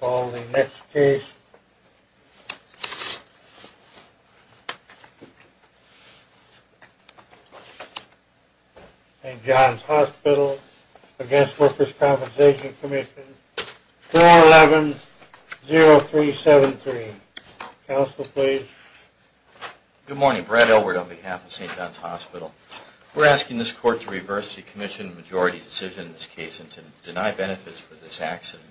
4-11-0373. Council, please. Good morning. Brad Elwood on behalf of St. John's Hospital. We're asking this Court to reverse the Commission Majority Decision in this case and to deny benefits for this accident.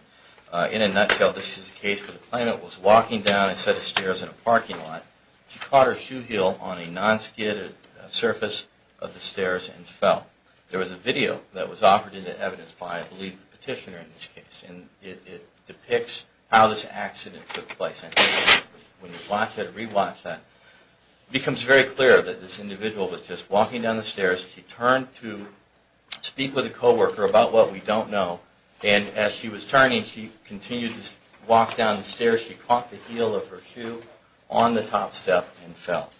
In a nutshell, this is a case where the plaintiff was walking down a set of stairs in a parking lot. She caught her shoe heel on a non-skidded surface of the stairs and fell. There was a video that was offered into evidence by, I believe, the petitioner in this case, and it depicts how this accident took place. And when you watch that, re-watch that, it becomes very clear that this individual was just walking down the stairs. She turned to speak with a coworker about what we don't know, and as she was turning, she continued to walk down the stairs. She caught the heel of her shoe on the top step and fell.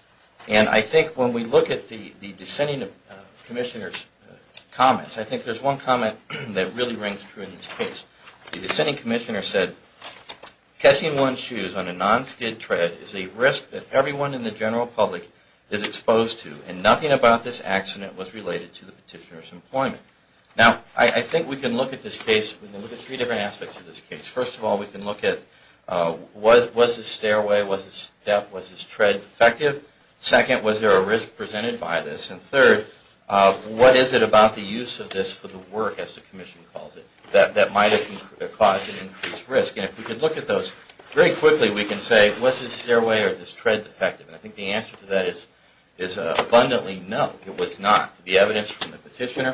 And I think when we look at the dissenting Commissioner's comments, I think there's one comment that really rings true in this case. The dissenting Commissioner said, catching one's shoes on a non-skid tread is a risk that everyone in this accident was related to the petitioner's employment. Now, I think we can look at this case, we can look at three different aspects of this case. First of all, we can look at was this stairway, was this step, was this tread defective? Second, was there a risk presented by this? And third, what is it about the use of this for the work, as the Commission calls it, that might have caused an increased risk? And if we could look at those very quickly, we can say, was this stairway or this tread defective? And I think the answer to that is abundantly no, it was not. The evidence from the petitioner,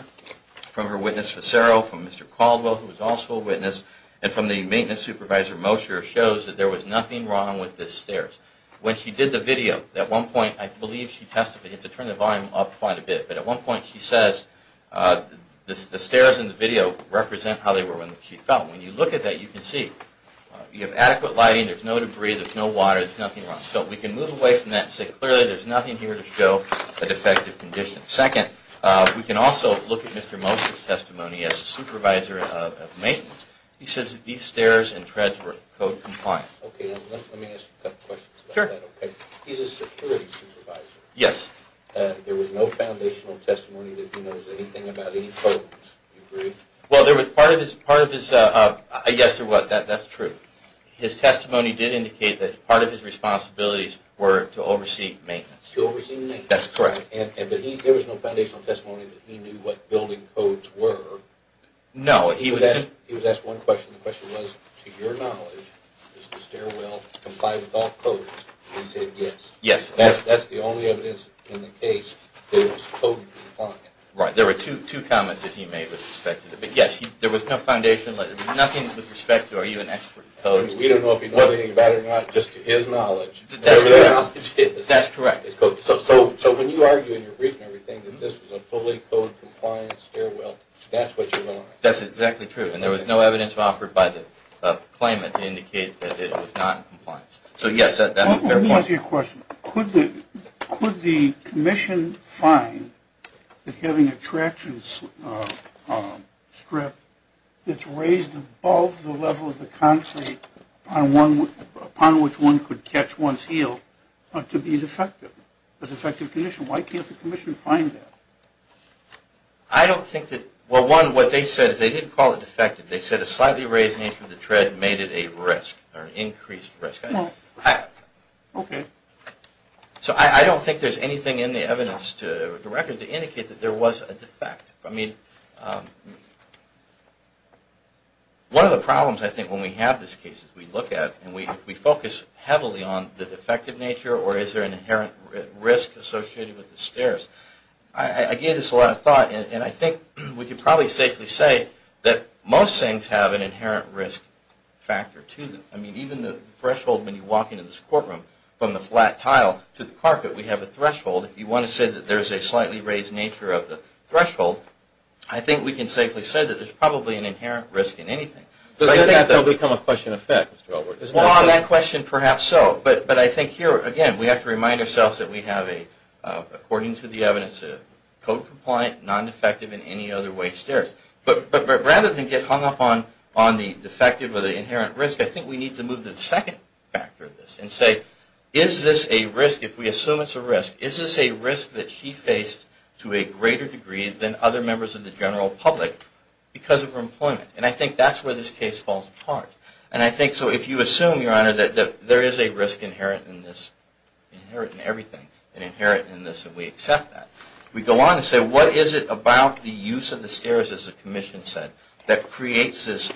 from her witness, Fisero, from Mr. Caldwell, who was also a witness, and from the maintenance supervisor, Mosher, shows that there was nothing wrong with the stairs. When she did the video, at one point, I believe she testified, I have to turn the volume up quite a bit, but at one point she says the stairs in the video represent how they were when she fell. When you look at that, you can see you have adequate lighting, there's no debris, there's no water, there's nothing to show a defective condition. Second, we can also look at Mr. Mosher's testimony, as a supervisor of maintenance, he says that these stairs and treads were code compliant. He's a security supervisor. Yes. There was no foundational testimony that he knows anything about any codes, do you agree? Yes, that's true. His testimony did indicate that part of his responsibilities were to oversee maintenance. To oversee maintenance. That's correct. There was no foundational testimony that he knew what building codes were. No, he was asked one question, the question was, to your knowledge, does the stairwell comply with all codes? He said yes. Yes. That's the only evidence in the case that it was code compliant. Right, there were two comments that he made with respect to that, but yes, there was no foundation, nothing with respect to, are you an expert in codes? We don't know anything about it or not, just to his knowledge. That's correct. So when you argue in your brief and everything that this was a fully code compliant stairwell, that's what you're going on. That's exactly true, and there was no evidence offered by the claimant to indicate that it was not in compliance. So yes, that's a fair point. Let me ask you a question, could the commission find that having a traction strip that's raised above the level of the concrete upon which one could catch one's heel to be defective, a defective condition? Why can't the commission find that? I don't think that, well one, what they said is they didn't call it defective, they said a slightly raised nature of the tread made it a risk or an increased risk. Okay. So I don't think there's anything in the evidence to the record to indicate that there was a defect. I mean, one of the problems I think when we have this case is we look at and we focus heavily on the defective nature or is there an inherent risk associated with the stairs. I gave this a lot of thought and I think we could probably safely say that most things have an inherent risk factor to them. I mean even the threshold when you walk into this courtroom from the flat tile to the threshold, if you want to say that there's a slightly raised nature of the threshold, I think we can safely say that there's probably an inherent risk in anything. But I think that will become a question of fact, Mr. Albert. Well on that question perhaps so, but I think here again we have to remind ourselves that we have a, according to the evidence, a code compliant, non-defective in any other way stairs. But rather than get hung up on the defective or the inherent risk, I think we need to move to the second factor of this and say is this a risk, if we assume it's a risk, is this a risk that she faced to a greater degree than other members of the general public because of her employment? And I think that's where this case falls apart. And I think so if you assume, Your Honor, that there is a risk inherent in this, inherent in everything, and inherent in this and we accept that, we go on and say what is it about the use of the stairs, as the Commission said, that creates this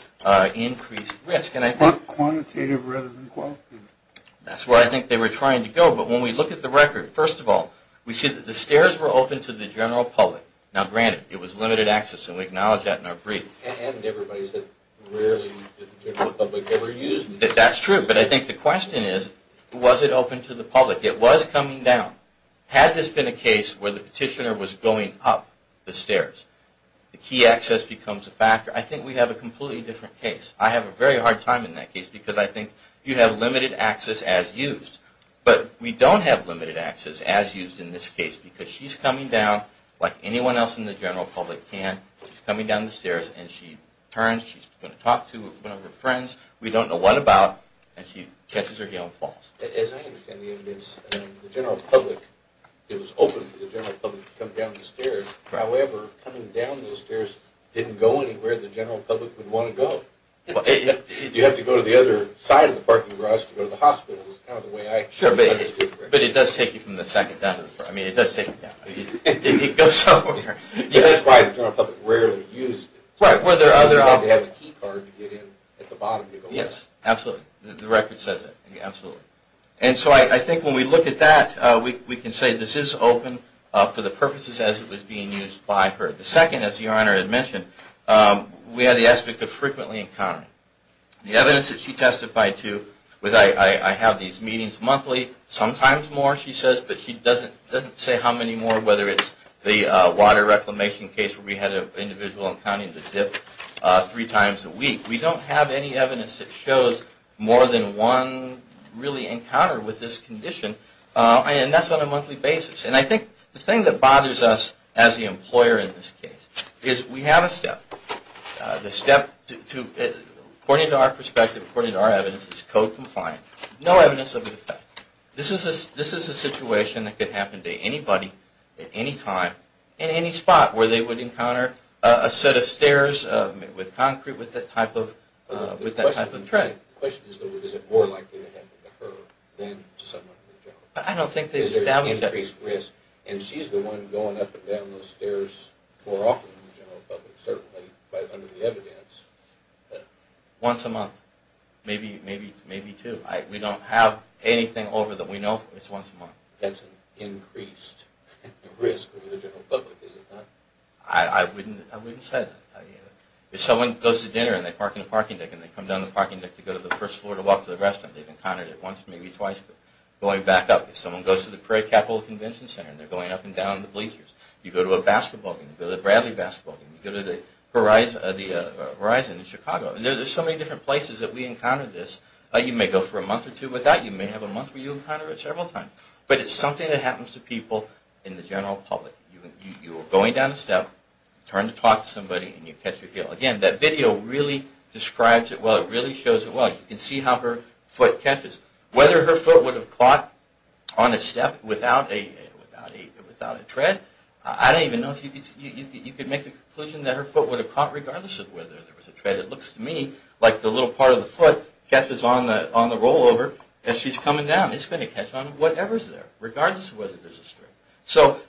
increased risk? And I think... Quantitative rather than First of all, we see that the stairs were open to the general public. Now granted, it was limited access and we acknowledge that in our brief. And everybody said rarely did the general public ever use them. That's true, but I think the question is was it open to the public? It was coming down. Had this been a case where the petitioner was going up the stairs, the key access becomes a factor. I think we have a completely different case. I have a very hard time in that case because I think you have limited access as used. But we don't have limited access as used in this case because she's coming down like anyone else in the general public can. She's coming down the stairs and she turns, she's going to talk to one of her friends, we don't know what about, and she catches her heel and falls. As I understand the evidence, the general public, it was open for the general public to come down the stairs. However, coming down those stairs didn't go anywhere the general public would want to go. You have to go to the other side of the parking garage to go to the hospital is kind of the way I understood the record. But it does take you from the second down to the third. I mean, it does take you down. It goes somewhere. That's why the general public rarely used it. Right, were there other options? You'd have to have a key card to get in at the bottom. Yes, absolutely. The record says it, absolutely. And so I think when we look at that, we can say this is open for the purposes as it was being used by her. The second, as the Honor had mentioned, we had the aspect of frequently encountering. The evidence that she testified to was I have these meetings monthly, sometimes more she says, but she doesn't say how many more, whether it's the water reclamation case where we had an individual encountering the dip three times a week. We don't have any evidence that shows more than one really encounter with this condition, and that's on a monthly basis. And I think the thing that bothers us as the employer in this case is we have a step. The step, according to our perspective, according to our evidence, is code-confined. No evidence of an effect. This is a situation that could happen to anybody at any time in any spot where they would encounter a set of stairs with concrete, with that type of tread. The question is, though, is it more likely to happen to her than to someone in the general public? I don't think they've established that. Is there increased risk of going down those stairs more often than the general public, certainly under the evidence? Once a month. Maybe two. We don't have anything over that we know of that's once a month. That's an increased risk for the general public, is it not? I wouldn't say that. If someone goes to dinner and they park in a parking deck and they come down the parking deck to go to the first floor to walk to the restaurant, they've encountered it once, maybe twice, but going back up. If someone goes to the Prairie Capital Convention Center and they're going up and down the bleachers, you go to a basketball game, you go to the Bradley basketball game, you go to the Horizon in Chicago. There's so many different places that we encounter this. You may go for a month or two without. You may have a month where you encounter it several times. But it's something that happens to people in the general public. You're going down a step, turn to talk to somebody, and you catch your heel. Again, that video really describes it well. It really shows it well. You can see how her foot catches. Whether her foot would have caught on a step without a tread, I don't even know if you could make the conclusion that her foot would have caught regardless of whether there was a tread. It looks to me like the little part of the foot catches on the rollover as she's coming down. It's going to catch on whatever's there, regardless of whether there's a string. So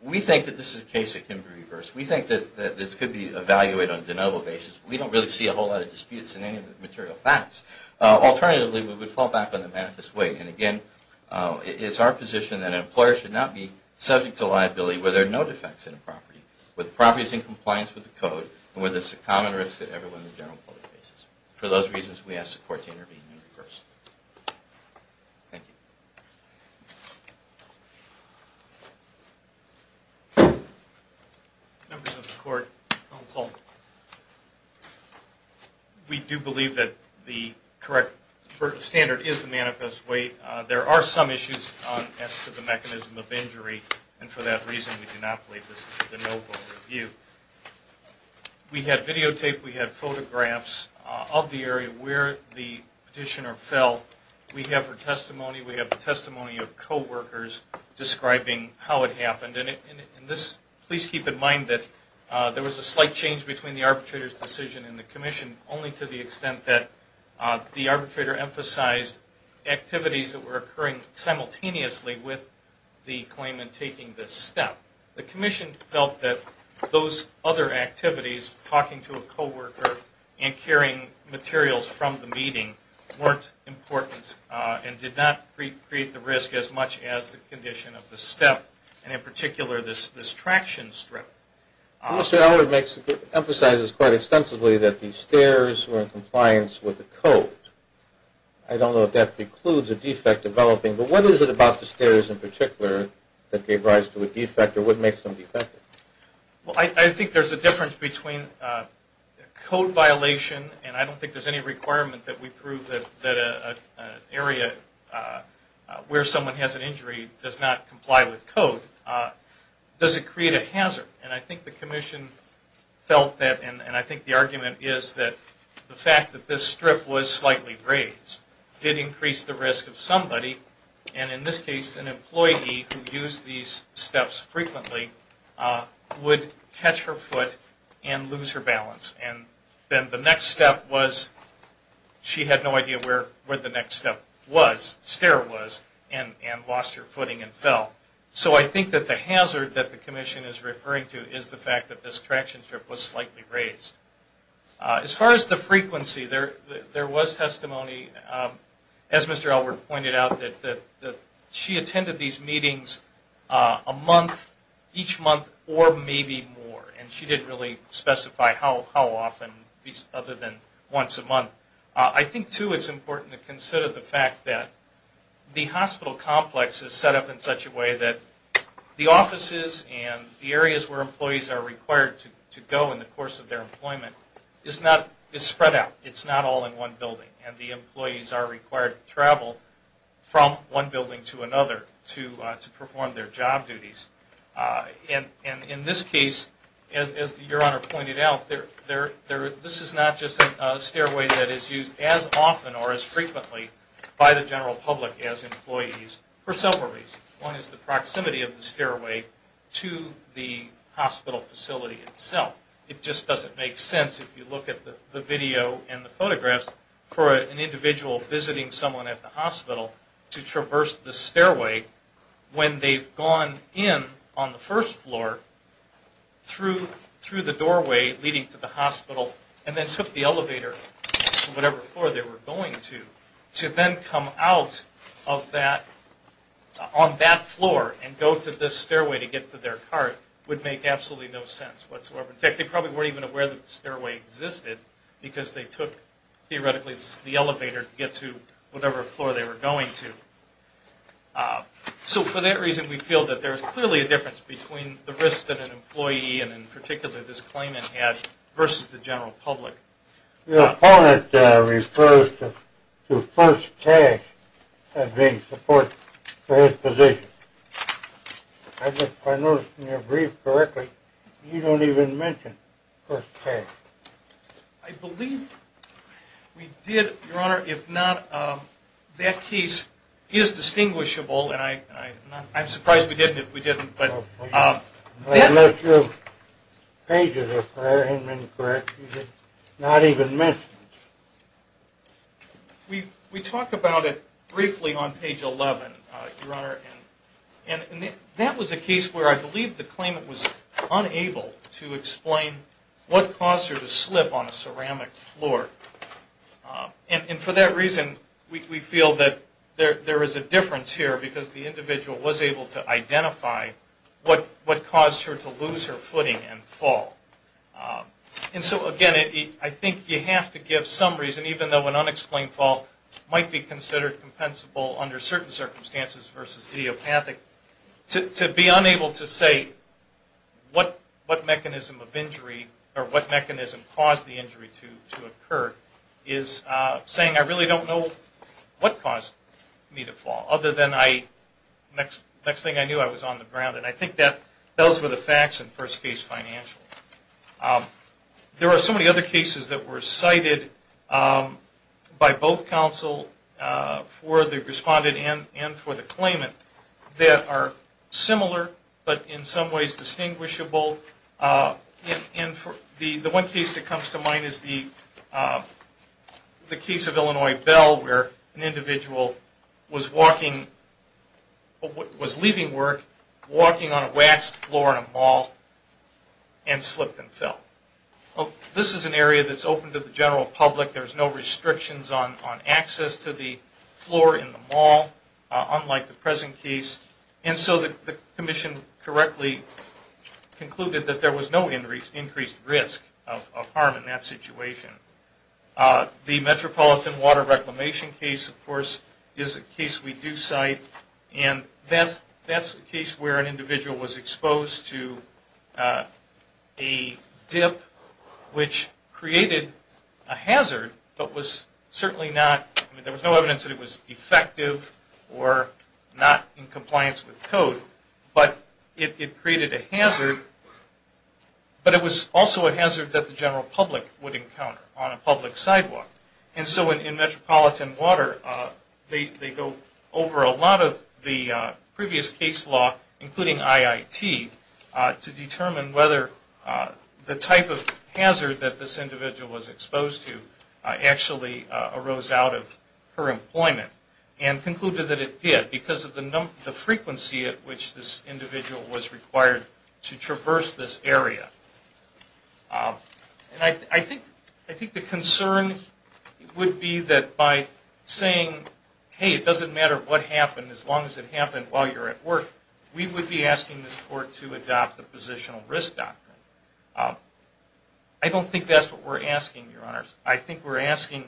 we think that this is a case that can be reversed. We think that this could be evaluated on a de novo basis. We don't really see a whole lot of disputes in any of the material facts. Alternatively, we would fall back on the way. And again, it's our position that an employer should not be subject to liability where there are no defects in a property, where the property is in compliance with the code, and where there's a common risk that everyone in the general public faces. For those reasons, we ask the court to intervene and reverse. Thank you. Members of the court, counsel, we do believe that the correct standard is the manifest weight. There are some issues as to the mechanism of injury, and for that reason, we do not believe this is a de novo review. We had videotaped, we had photographs of the area where the petitioner fell. We have her testimony, we have the testimony of co-workers describing how it happened. And this, please keep in mind that there was a slight change between the arbitrator's decision and the commission, only to the extent that the arbitrator emphasized activities that were occurring simultaneously with the claimant taking this step. The commission felt that those other activities, talking to a co-worker and carrying materials from the meeting, weren't important and did not create the risk as much as the condition of the step. And in particular, this traction strip. Mr. Ellard emphasizes quite extensively that the stairs were in compliance with the code. I don't know if that precludes a defect developing, but what is it about the stairs in particular that gave rise to a defect or would make some defect? Well, I think there's a difference between a code violation, and I don't think there's any requirement that we prove that an area where someone has an injury does not comply with the code. Does it create a hazard? And I think the commission felt that, and I think the argument is that the fact that this strip was slightly raised did increase the risk of somebody, and in this case an employee who used these steps frequently would catch her foot and lose her balance. And then the next step was she had no idea where the next step was, stair was, and lost her footing and fell. So I think that the hazard that the commission is referring to is the fact that this traction strip was slightly raised. As far as the frequency, there was testimony, as Mr. Ellard pointed out, that she attended these meetings a month, each month, or maybe more. And she didn't really specify how often, other than once a month. I think, too, it's important to consider the fact that the hospital complex is set up in such a way that the offices and the areas where employees are required to go in the course of their employment is spread out. It's not all in one building, and the employees are required to travel from one building to another to perform their job duties. And in this case, as Your Honor pointed out, this is not just a stairway that is used as often or as frequently by the general public as employees for several reasons. One is the proximity of the stairway to the hospital facility itself. It just doesn't make sense if you look at the video and the photographs for an individual visiting someone at the first floor through the doorway leading to the hospital and then took the elevator to whatever floor they were going to. To then come out on that floor and go to this stairway to get to their cart would make absolutely no sense whatsoever. In fact, they probably weren't even aware that the stairway existed because they took, theoretically, the elevator to get to whatever floor they were going to. So for that reason, we feel that there is clearly a difference between the risk that an employee and, in particular, this claimant had versus the general public. Your opponent refers to first task as being support for his position. I noticed in your brief correctly, you don't even mention first task. I believe we did, Your Honor. If not, that case is distinguishable, and I'm surprised we didn't if we didn't. Unless your pages are fair and incorrect, you did not even mention it. We talk about it briefly on page 11, Your Honor, and that was a case where I believe the claimant was unable to explain what caused her to slip on a ceramic floor. And for that reason, I can't identify what caused her to lose her footing and fall. And so, again, I think you have to give some reason, even though an unexplained fall might be considered compensable under certain circumstances versus idiopathic, to be unable to say what mechanism of injury or what mechanism caused the injury to occur is saying I really don't know what caused me to fall. Other than the next thing I knew, I was on the ground. And I think those were the facts in first case financial. There are so many other cases that were cited by both counsel for the respondent and for the claimant that are similar, but in some ways distinguishable. And the one case that was most distinguishable was leaving work, walking on a waxed floor in a mall, and slipped and fell. This is an area that's open to the general public. There's no restrictions on access to the floor in the mall, unlike the present case. And so the Commission correctly concluded that there was no increased risk of harm in that situation. The Metropolitan Water Reclamation case, of course, is a case we do cite. And that's a case where an individual was exposed to a dip which created a hazard, but was certainly not, there was no evidence that it was defective or not in compliance with code, but it created a hazard. But it was also a hazard that the general public would encounter on a public sidewalk. And so in Metropolitan Water, they go over a lot of the previous case law, including IIT, to determine whether the type of hazard that this individual was exposed to actually arose out of her employment. And concluded that it did, because of the frequency at which this individual was required to traverse this area. And I think the concern would be that by saying, hey, it doesn't matter what happened, as long as it happened while you're at work, we would be asking this Court to adopt the positional risk doctrine. I don't think that's what we're asking, Your Honors. I think we're asking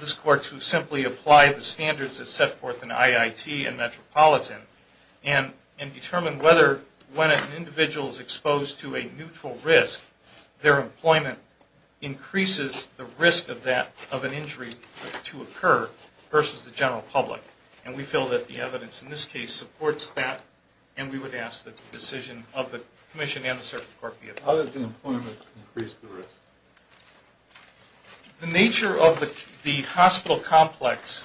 this Court to simply apply the standards set forth in IIT and Metropolitan, and determine whether when an individual is exposed to a neutral risk, their employment increases the risk of that, of an injury to occur versus the general public. And we feel that the evidence in this case supports that, and we would ask that the decision of the Commission and the Circuit Court be adopted. How does the employment increase the risk? The nature of the hospital complex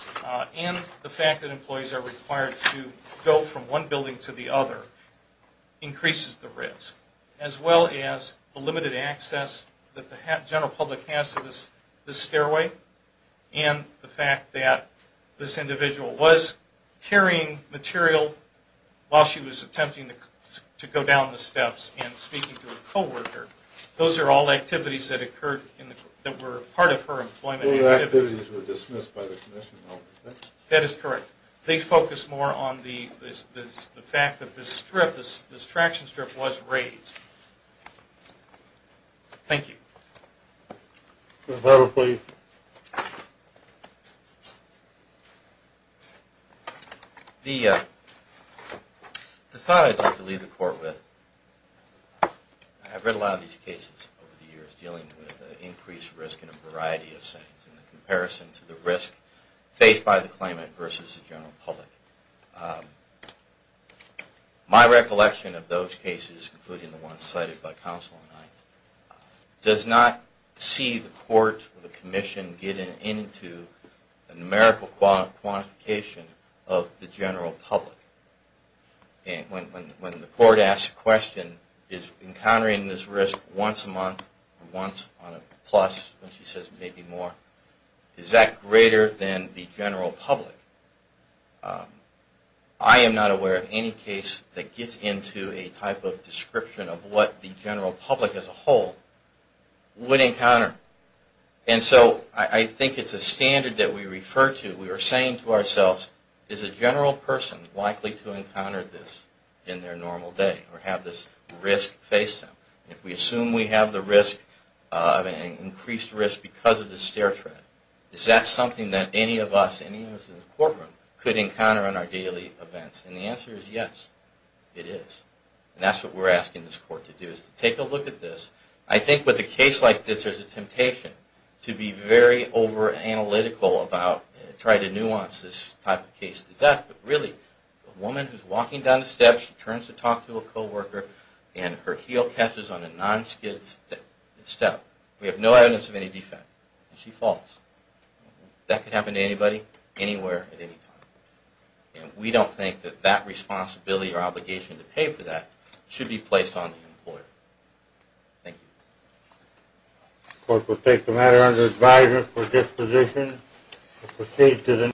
and the fact that employees are required to go from one building to the other increases the risk, as well as the limited access that the general public has to this stairway, and the fact that this individual was carrying material while she was attempting to go down the steps and speaking to a coworker. Those are all activities that occurred that were part of her employment. Those activities were dismissed by the Commission, though, correct? That is correct. They focus more on the fact that this traction strip was raised. Thank you. Judge Barber, please. The thought I'd like to leave the Court with, I've read a lot of these cases over the years dealing with increased risk in a variety of settings in comparison to the risk faced by the claimant versus the general public. My recollection of those cases, including the ones cited by counsel tonight, does not see the Court or the Commission getting into a numerical quantification of the general public. When the Court asks a question, is encountering this risk once a month or once on a plus, when she says maybe more, is that greater than the general public? I am not aware of any case that gets into a type of description of what the general public as a whole would encounter. And so I think it's a standard that we refer to. We are saying to ourselves, is a general person likely to encounter this in their normal day or have this risk face them? If we assume we have the risk of an increased risk because of the stair tread, is that something that any of us in the courtroom could encounter in our daily events? And the answer is yes, it is. And that's what we're asking this Court to do, is to take a look at this. I think with a case like this, there's a temptation to be very over-analytical about trying to nuance this type of case to death. But really, a woman who's walking down the steps, she turns to talk to a coworker, and her heel catches on a non-skid step. We have no evidence of any defect. And she can say, false. That can happen to anybody, anywhere, at any time. And we don't think that that responsibility or obligation to pay for that should be placed on the employer. Thank you.